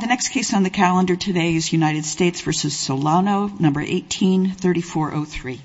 The next case on the calendar today is United States v. Solano, No. 18-3403.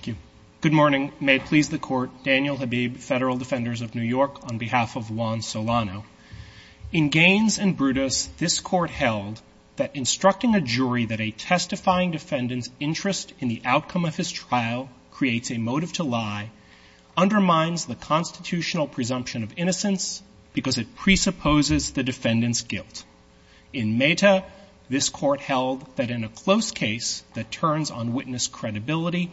Thank you. Good morning. May it please the Court, Daniel Habib, Federal Defenders of New York, on behalf of Juan Solano. In Gaines and Brutus, this Court held that instructing a jury that a testifying defendant's interest in the outcome of his trial creates a motive to lie undermines the constitutional presumption of innocence because it presupposes the defendant's in a close case that turns on witness credibility,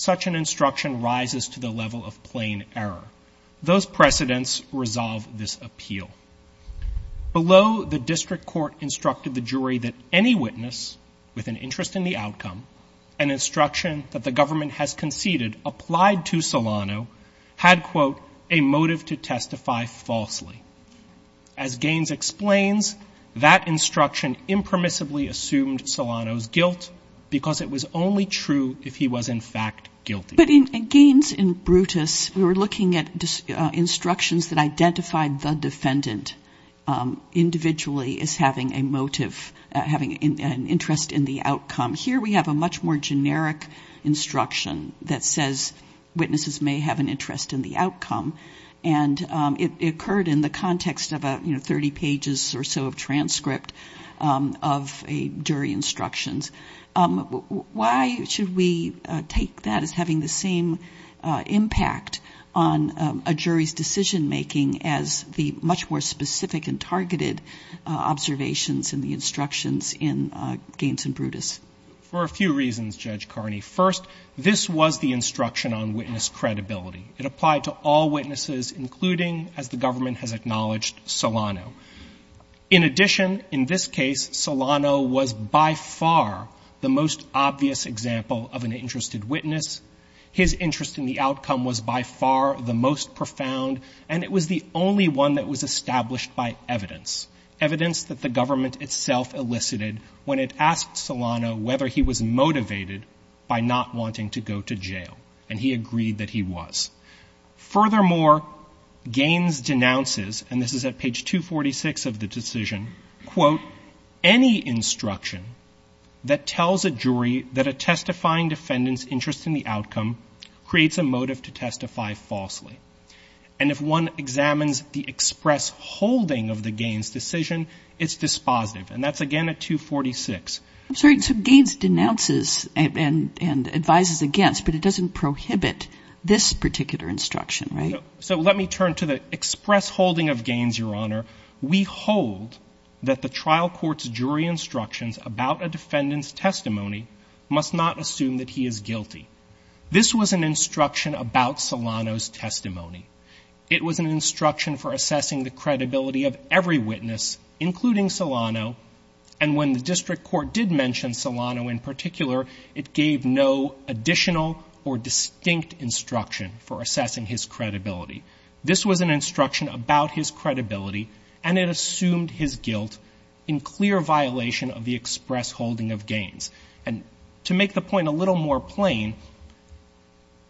such an instruction rises to the level of plain error. Those precedents resolve this appeal. Below, the District Court instructed the jury that any witness with an interest in the outcome, an instruction that the government has conceded applied to Solano, had, quote, a motive to testify falsely. As Gaines explains, that instruction impermissibly assumed Solano's guilt because it was only true if he was, in fact, guilty. But in Gaines and Brutus, we were looking at instructions that identified the defendant individually as having a motive, having an interest in the outcome. Here we have a much more generic instruction that says witnesses may have an interest in the outcome. And it occurred in the context of a, you know, 30 pages or so of transcript of a jury instructions. Why should we take that as having the same impact on a jury's decision-making as the much more specific and targeted observations in the instructions in Gaines and Brutus? For a few reasons, Judge Carney. First, this was the instruction on witness credibility. It applied to all witnesses, including, as the government has acknowledged, Solano. In addition, in this case, Solano was by far the most obvious example of an interested witness. His interest in the outcome was by far the most profound, and it was the only one that was established by evidence, evidence that the government itself elicited when it asked Solano whether he was motivated by not wanting to go to jail. And he agreed that he was. Furthermore, Gaines denounces, and this is at page 246 of the decision, quote, any instruction that tells a jury that a testifying defendant's interest in the outcome creates a motive to testify falsely. And if one examines the express holding of the Gaines decision, it's dispositive. And that's again at 246. I'm sorry, so Gaines denounces and advises against, but it doesn't prohibit this particular instruction, right? So let me turn to the express holding of Gaines, Your Honor. We hold that the trial court's jury instructions about a defendant's testimony must not assume that he is guilty. This was an instruction about Solano's testimony. It was an instruction for assessing the credibility of every witness, including Solano. And when the district court did mention Solano in particular, it gave no additional or distinct instruction for assessing his credibility. This was an instruction about his credibility, and it assumed his guilt in clear violation of the express holding of Gaines. And to make the point a little more plain,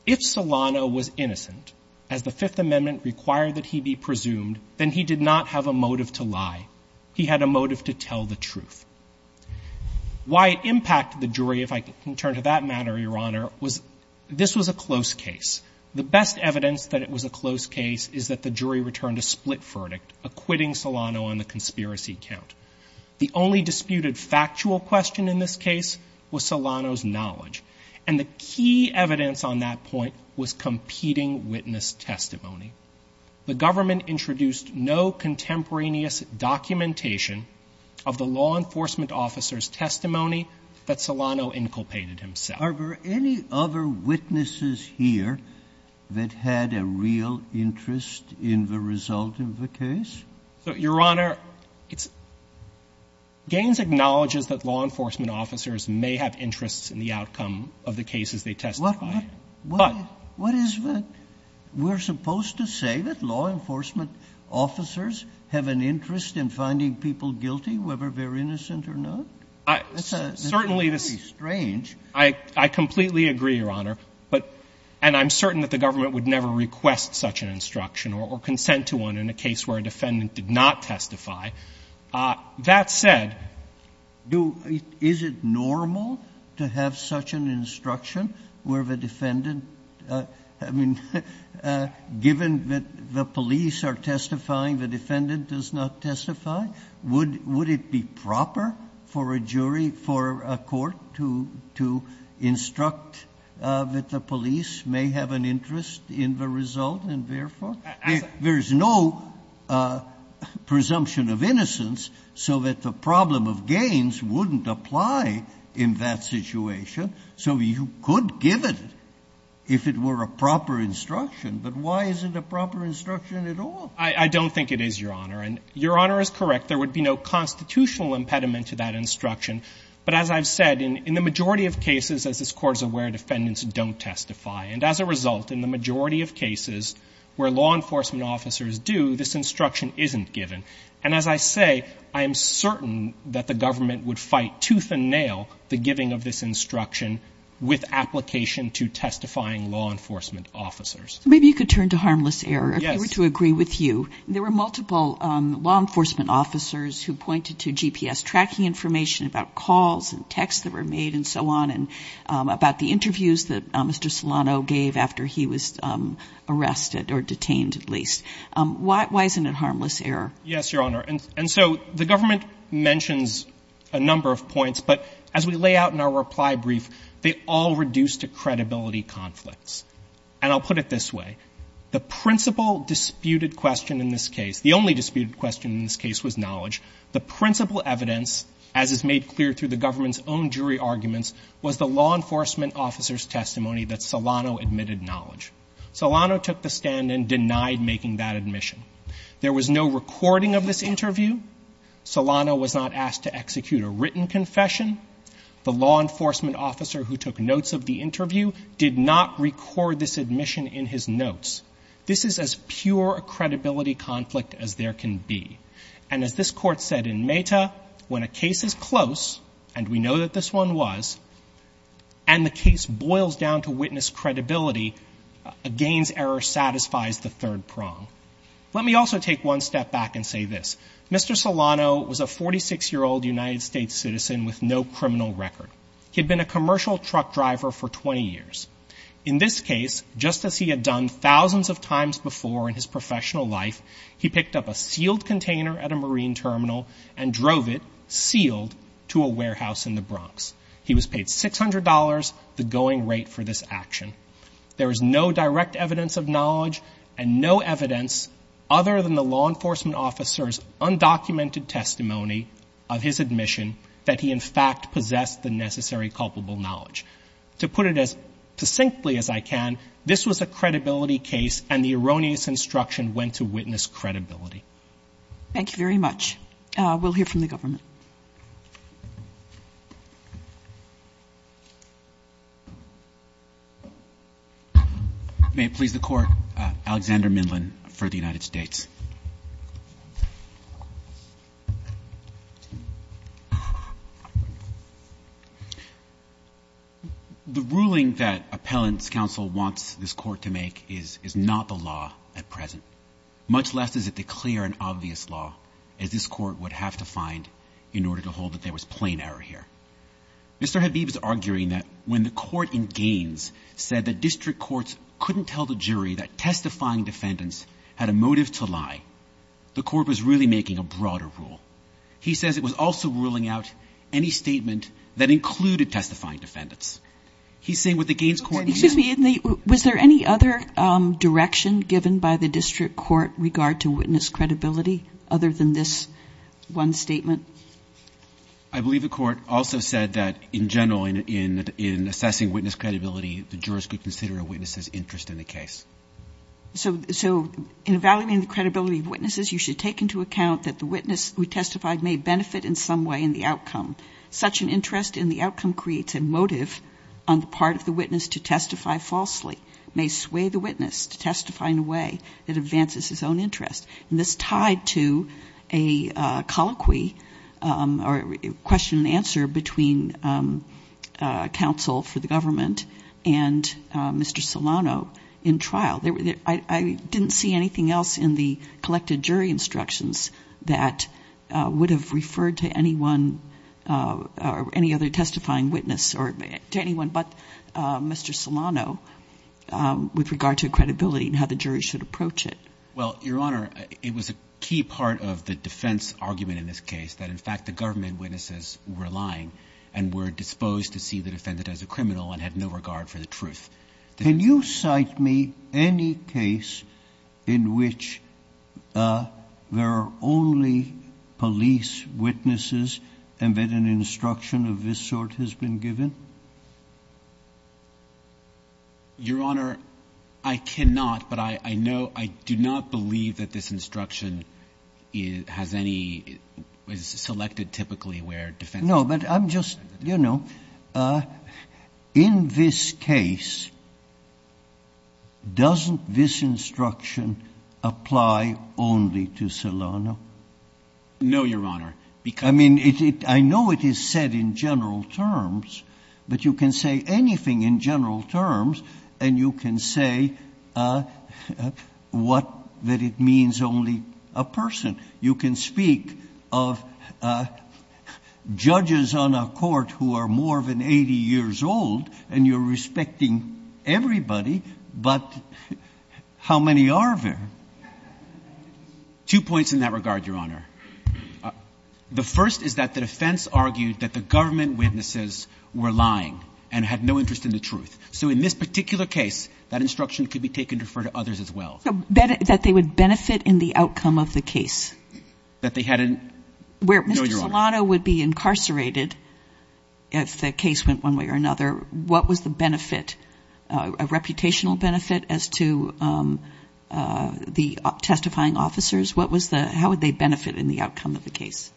if Solano was innocent, as the Fifth Amendment required that he be presumed, then he did not have a motive to lie. He had a motive to tell the truth. Why it impacted the jury, if I can turn to that matter, Your Honor, was this was a close case. The best evidence that it was a close case is that the jury returned a split verdict, acquitting Solano on the conspiracy count. The only disputed factual question in this case was Solano's knowledge. And the key evidence on that point was competing witness testimony. The government introduced no contemporaneous documentation of the law enforcement officer's testimony that Solano inculpated himself. Sotomayor, any other witnesses here that had a real interest in the result of the case? Your Honor, it's — Gaines acknowledges that law enforcement officers may have interests in the outcome of the cases they testify. But what is the — we're supposed to say that law enforcement officers have an interest in finding people guilty, whether they're innocent or not? Certainly, this — That's very strange. I completely agree, Your Honor. But — and I'm certain that the government would never request such an instruction or consent to one in a case where a defendant did not testify. That said, do — is it normal to have such an instruction where the defendant — I mean, given that the police are testifying, the defendant does not testify? Would — would it be proper for a jury, for a court, to — to instruct that the police may have an interest in the result, and therefore — I'm sorry. There's no presumption of innocence so that the problem of Gaines wouldn't apply in that situation. So you could give it if it were a proper instruction. But why is it a proper instruction at all? I don't think it is, Your Honor. And Your Honor is correct. There would be no constitutional impediment to that instruction. But as I've said, in the majority of cases, as this Court is aware, defendants don't testify. And as a result, in the majority of cases where law enforcement officers do, this instruction isn't given. And as I say, I am certain that the government would fight tooth and nail the giving of this instruction with application to testifying law enforcement officers. Maybe you could turn to harmless error. Yes. If we were to agree with you, there were multiple law enforcement officers who pointed to GPS tracking information about calls and texts that were made and so on, and about the interviews that Mr. Solano gave after he was arrested or detained, at least. Why — why isn't it harmless error? Yes, Your Honor. And so the government mentions a number of points. But as we lay out in our reply brief, they all reduce to credibility conflicts. And I'll put it this way. The principal disputed question in this case — the only disputed question in this case was knowledge. The principal evidence, as is made clear through the government's own jury arguments, was the law enforcement officer's testimony that Solano admitted knowledge. Solano took the stand and denied making that admission. There was no recording of this interview. Solano was not asked to execute a written confession. The law enforcement officer who took notes of the interview did not record this admission in his notes. This is as pure a credibility conflict as there can be. And as this Court said in Meta, when a case is close — and we know that this one was — and the case boils down to witness credibility, a gains error satisfies the third prong. Let me also take one step back and say this. Mr. Solano was a 46-year-old United States citizen with no criminal record. He had been a commercial truck driver for 20 years. In this case, just as he had done thousands of times before in his professional life, he picked up a sealed container at a Marine terminal and drove it — sealed — to a warehouse in the Bronx. He was paid $600, the going rate for this action. There is no direct evidence of knowledge and no evidence other than the law enforcement officer's undocumented testimony of his admission that he, in fact, possessed the necessary culpable knowledge. To put it as succinctly as I can, this was a credibility case, and the erroneous instruction went to witness credibility. Thank you very much. We'll hear from the government. May it please the Court. Alexander Mindlin for the United States. The ruling that Appellant's counsel wants this Court to make is not the law at present, much less does it declare an obvious law, as this Court would have to find in order to hold that there was plain error here. Mr. Habib is arguing that when the Court in Gaines said that district courts couldn't tell the jury that testifying defendants had a motive to lie, the Court was really making a broader rule. He says it was also ruling out any statement that included testifying defendants. He's saying with the Gaines Court — Excuse me. Was there any other direction given by the district court regard to witness credibility other than this one statement? I believe the Court also said that in general, in assessing witness credibility, the jurors could consider a witness's interest in the case. So in evaluating the credibility of witnesses, you should take into account that the witness who testified may benefit in some way in the outcome. Such an interest in the outcome creates a motive on the part of the witness to testify falsely, may sway the witness to testify in a way that advances his own interest. And this is tied to a colloquy or question and answer between counsel for the government and Mr. Solano in trial. I didn't see anything else in the collected jury instructions that would have referred to anyone or any other testifying witness or to anyone but Mr. Solano with regard to credibility and how the jury should approach it. Well, Your Honor, it was a key part of the defense argument in this case that, in fact, the government witnesses were lying and were disposed to see the defendant as a criminal and had no regard for the truth. Can you cite me any case in which there are only police witnesses and that an instruction of this sort has been given? Your Honor, I cannot. But I know, I do not believe that this instruction has any, is selected typically where defendants are selected. No, but I'm just, you know, in this case, doesn't this instruction apply only to Solano? No, Your Honor. I mean, I know it is said in general terms, but you can say anything in general terms and you can say what, that it means only a person. You can speak of judges on a court who are more than 80 years old and you're respecting everybody, but how many are there? Two points in that regard, Your Honor. The first is that the defense argued that the government witnesses were lying and had no interest in the truth. So in this particular case, that instruction could be taken to refer to others as well. That they would benefit in the outcome of the case? That they had an, no, Your Honor. Where Mr. Solano would be incarcerated if the case went one way or another, what was the benefit? A reputational benefit as to the testifying officers? What was the, how would they benefit in the outcome of the case?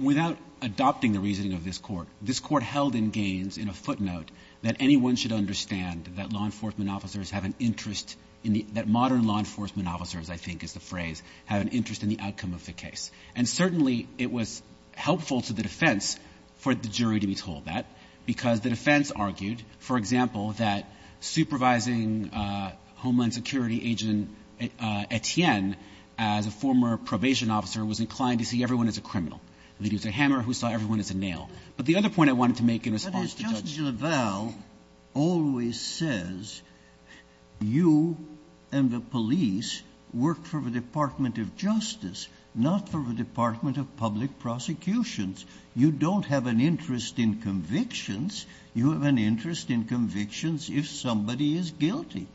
Without adopting the reasoning of this court, this court held in Gaines in a footnote that anyone should understand that law enforcement officers have an interest in the, that modern law enforcement officers, I think is the phrase, have an interest in the outcome of the case. And certainly it was helpful to the defense for the jury to be told that because the defense argued, for example, that supervising Homeland Security agent Etienne as a former probation officer was inclined to see everyone as a criminal. He used a hammer. Who saw everyone as a nail? But the other point I wanted to make in response to Judge Leval always says you and the police work for the Department of Justice, not for the Department of Public Prosecutions. You don't have an interest in convictions. You have an interest in convictions if somebody is guilty.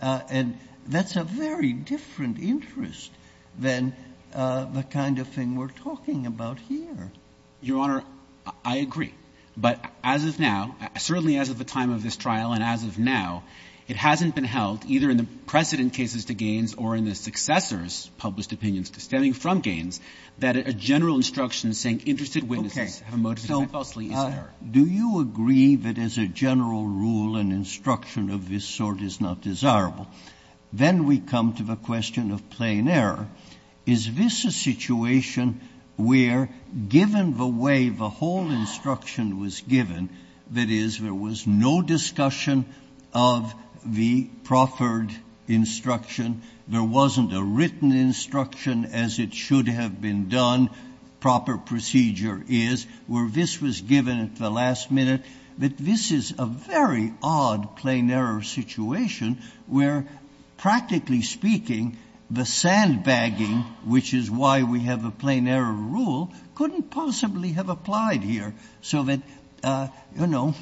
And that's a very different interest than the kind of thing we're talking about here. Your Honor, I agree. But as of now, certainly as of the time of this trial and as of now, it hasn't been held, either in the precedent cases to Gaines or in the successors' published opinions stemming from Gaines, that a general instruction saying interested witnesses for motive of death falsely is an error. Do you agree that as a general rule, an instruction of this sort is not desirable. Then we come to the question of plain error. Is this a situation where, given the way the whole instruction was given, that is, there was no discussion of the proffered instruction, there wasn't a written instruction as it should have been done. One proper procedure is, where this was given at the last minute, that this is a very odd plain error situation where, practically speaking, the sandbagging, which is why we have a plain error rule, couldn't possibly have applied here, so that, you know,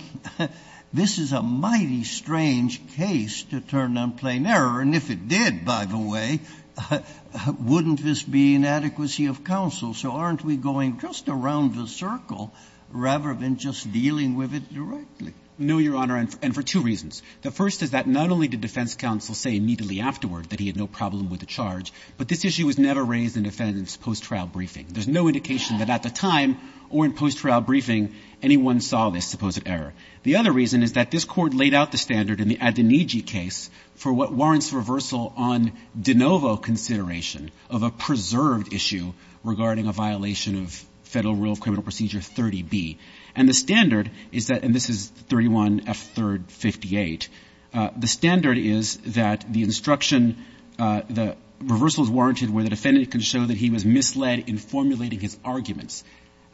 this is a mighty strange case to turn on plain error. And if it did, by the way, wouldn't this be an adequacy of counsel? So aren't we going just around the circle rather than just dealing with it directly? No, Your Honor, and for two reasons. The first is that not only did defense counsel say immediately afterward that he had no problem with the charge, but this issue was never raised in defense post-trial briefing. There's no indication that at the time or in post-trial briefing anyone saw this supposed error. The other reason is that this Court laid out the standard in the Adoniji case for what warrants reversal on de novo consideration of a preserved issue regarding a violation of Federal Rule of Criminal Procedure 30B. And the standard is that, and this is 31F3rd 58, the standard is that the instruction the reversal is warranted where the defendant can show that he was misled in formulating his arguments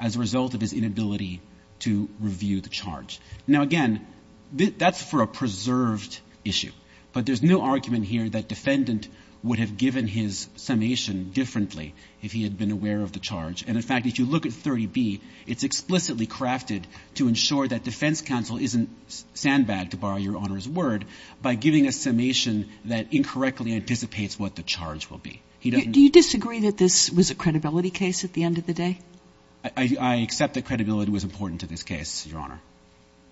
as a result of his inability to review the charge. Now, again, that's for a preserved issue, but there's no argument here that defendant would have given his summation differently if he had been aware of the charge. And in fact, if you look at 30B, it's explicitly crafted to ensure that defense counsel isn't sandbagged, to borrow Your Honor's word, by giving a summation that incorrectly anticipates what the charge will be. He doesn't ---- Do you disagree that this was a credibility case at the end of the day? I accept that credibility was important to this case, Your Honor.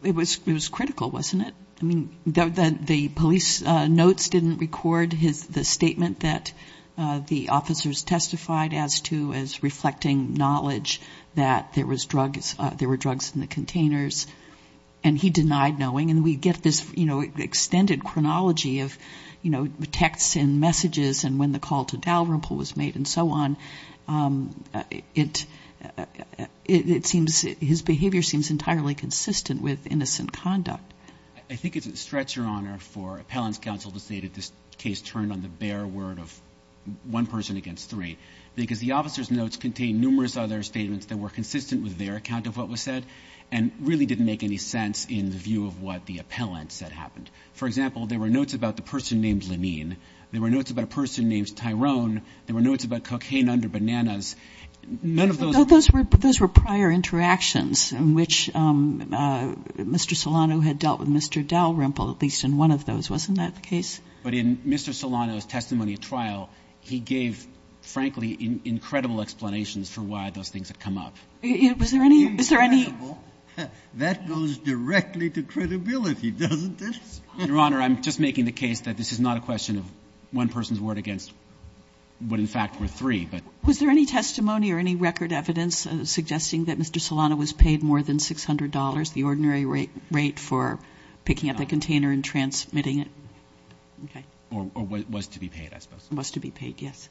It was critical, wasn't it? I mean, the police notes didn't record the statement that the officers testified as to as reflecting knowledge that there was drugs, there were drugs in the containers. And he denied knowing. And we get this, you know, extended chronology of, you know, texts and messages and when the call to Dalrymple was made and so on. It seems his behavior seems entirely consistent with innocent conduct. I think it's a stretch, Your Honor, for appellant's counsel to say that this case turned on the bare word of one person against three because the officer's notes contain numerous other statements that were consistent with their account of what was said and really didn't make any sense in the view of what the appellant said happened. For example, there were notes about the person named Lenine. There were notes about a person named Tyrone. There were notes about cocaine under bananas. None of those. Those were prior interactions in which Mr. Solano had dealt with Mr. Dalrymple, at least in one of those. Wasn't that the case? But in Mr. Solano's testimony at trial, he gave, frankly, incredible explanations for why those things had come up. Was there any? Is there any? That goes directly to credibility, doesn't it? Your Honor, I'm just making the case that this is not a question of one person's report against what, in fact, were three. Was there any testimony or any record evidence suggesting that Mr. Solano was paid more than $600, the ordinary rate for picking up the container and transmitting it? Okay. Or was to be paid, I suppose. Was to be paid, yes.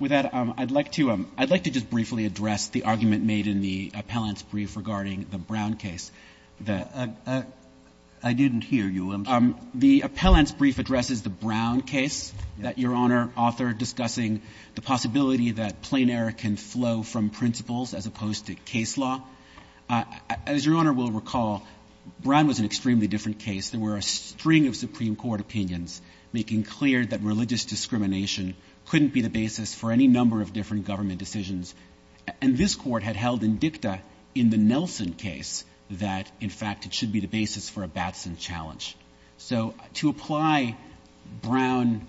With that, I'd like to just briefly address the argument made in the appellant's brief regarding the Brown case. I didn't hear you. I'm sorry. The appellant's brief addresses the Brown case that Your Honor authored, discussing the possibility that plain error can flow from principles as opposed to case law. As Your Honor will recall, Brown was an extremely different case. There were a string of Supreme Court opinions making clear that religious discrimination couldn't be the basis for any number of different government decisions. And this Court had held in dicta in the Nelson case that, in fact, it should be the basis for a Batson challenge. So to apply Brown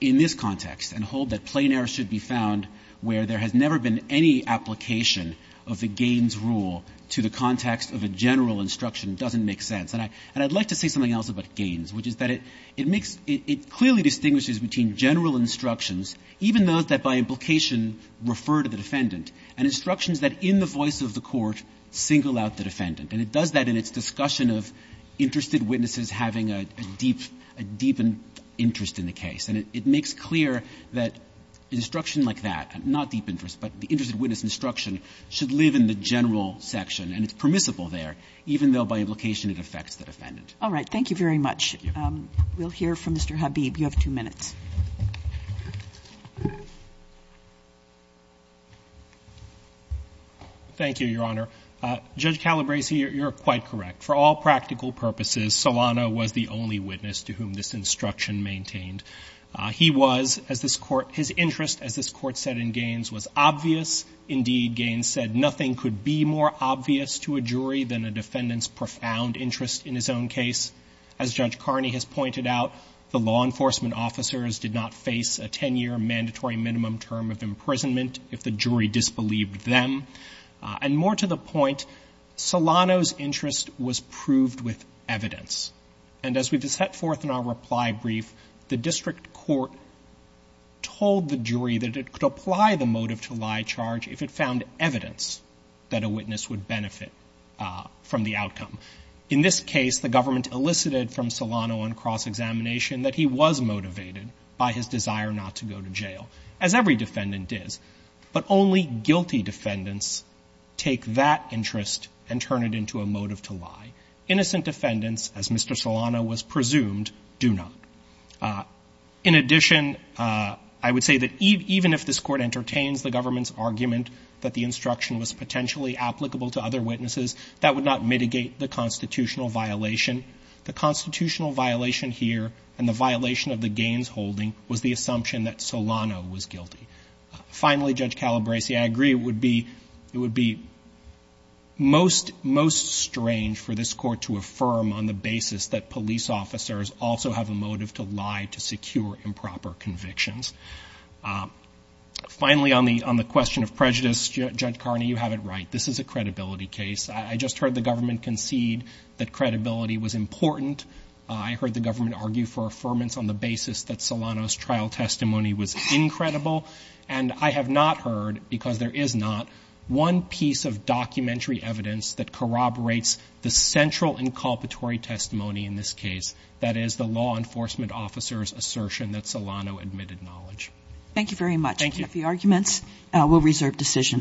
in this context and hold that plain error should be found where there has never been any application of the Gaines rule to the context of a general instruction doesn't make sense. And I'd like to say something else about Gaines, which is that it makes — it clearly distinguishes between general instructions, even those that by implication refer to the defendant, and instructions that in the voice of the court single out the defendant. And it does that in its discussion of interested witnesses having a deep — a deep interest in the case. And it makes clear that instruction like that, not deep interest, but the interested witness instruction, should live in the general section. And it's permissible there, even though by implication it affects the defendant. All right. Thank you very much. Thank you. We'll hear from Mr. Habib. You have two minutes. Thank you, Your Honor. Judge Calabresi, you're quite correct. For all practical purposes, Solano was the only witness to whom this instruction maintained. He was, as this Court — his interest, as this Court said in Gaines, was obvious. Indeed, Gaines said nothing could be more obvious to a jury than a defendant's profound interest in his own case. As Judge Carney has pointed out, the law enforcement officers did not face a 10-year mandatory minimum term of imprisonment if the jury disbelieved them. And more to the point, Solano's interest was proved with evidence. And as we set forth in our reply brief, the district court told the jury that it could apply the motive-to-lie charge if it found evidence that a witness would benefit from the outcome. In this case, the government elicited from Solano on cross-examination that he was motivated by his desire not to go to jail, as every defendant is. But only guilty defendants take that interest and turn it into a motive-to-lie. Innocent defendants, as Mr. Solano was presumed, do not. In addition, I would say that even if this Court entertains the government's argument that the instruction was potentially applicable to other witnesses, that would not mitigate the constitutional violation. The constitutional violation here and the violation of the Gaines holding was the assumption that Solano was guilty. Finally, Judge Calabresi, I agree it would be most strange for this Court to affirm on the basis that police officers also have a motive-to-lie to secure improper convictions. Finally, on the question of prejudice, Judge Carney, you have it right. This is a credibility case. I just heard the government concede that credibility was important. I heard the government argue for affirmance on the basis that Solano's trial testimony was incredible. And I have not heard, because there is not, one piece of documentary evidence that corroborates the central inculpatory testimony in this case, that is, the law enforcement officer's assertion that Solano admitted knowledge. Thank you very much. Thank you. If you have any arguments, we'll reserve decision.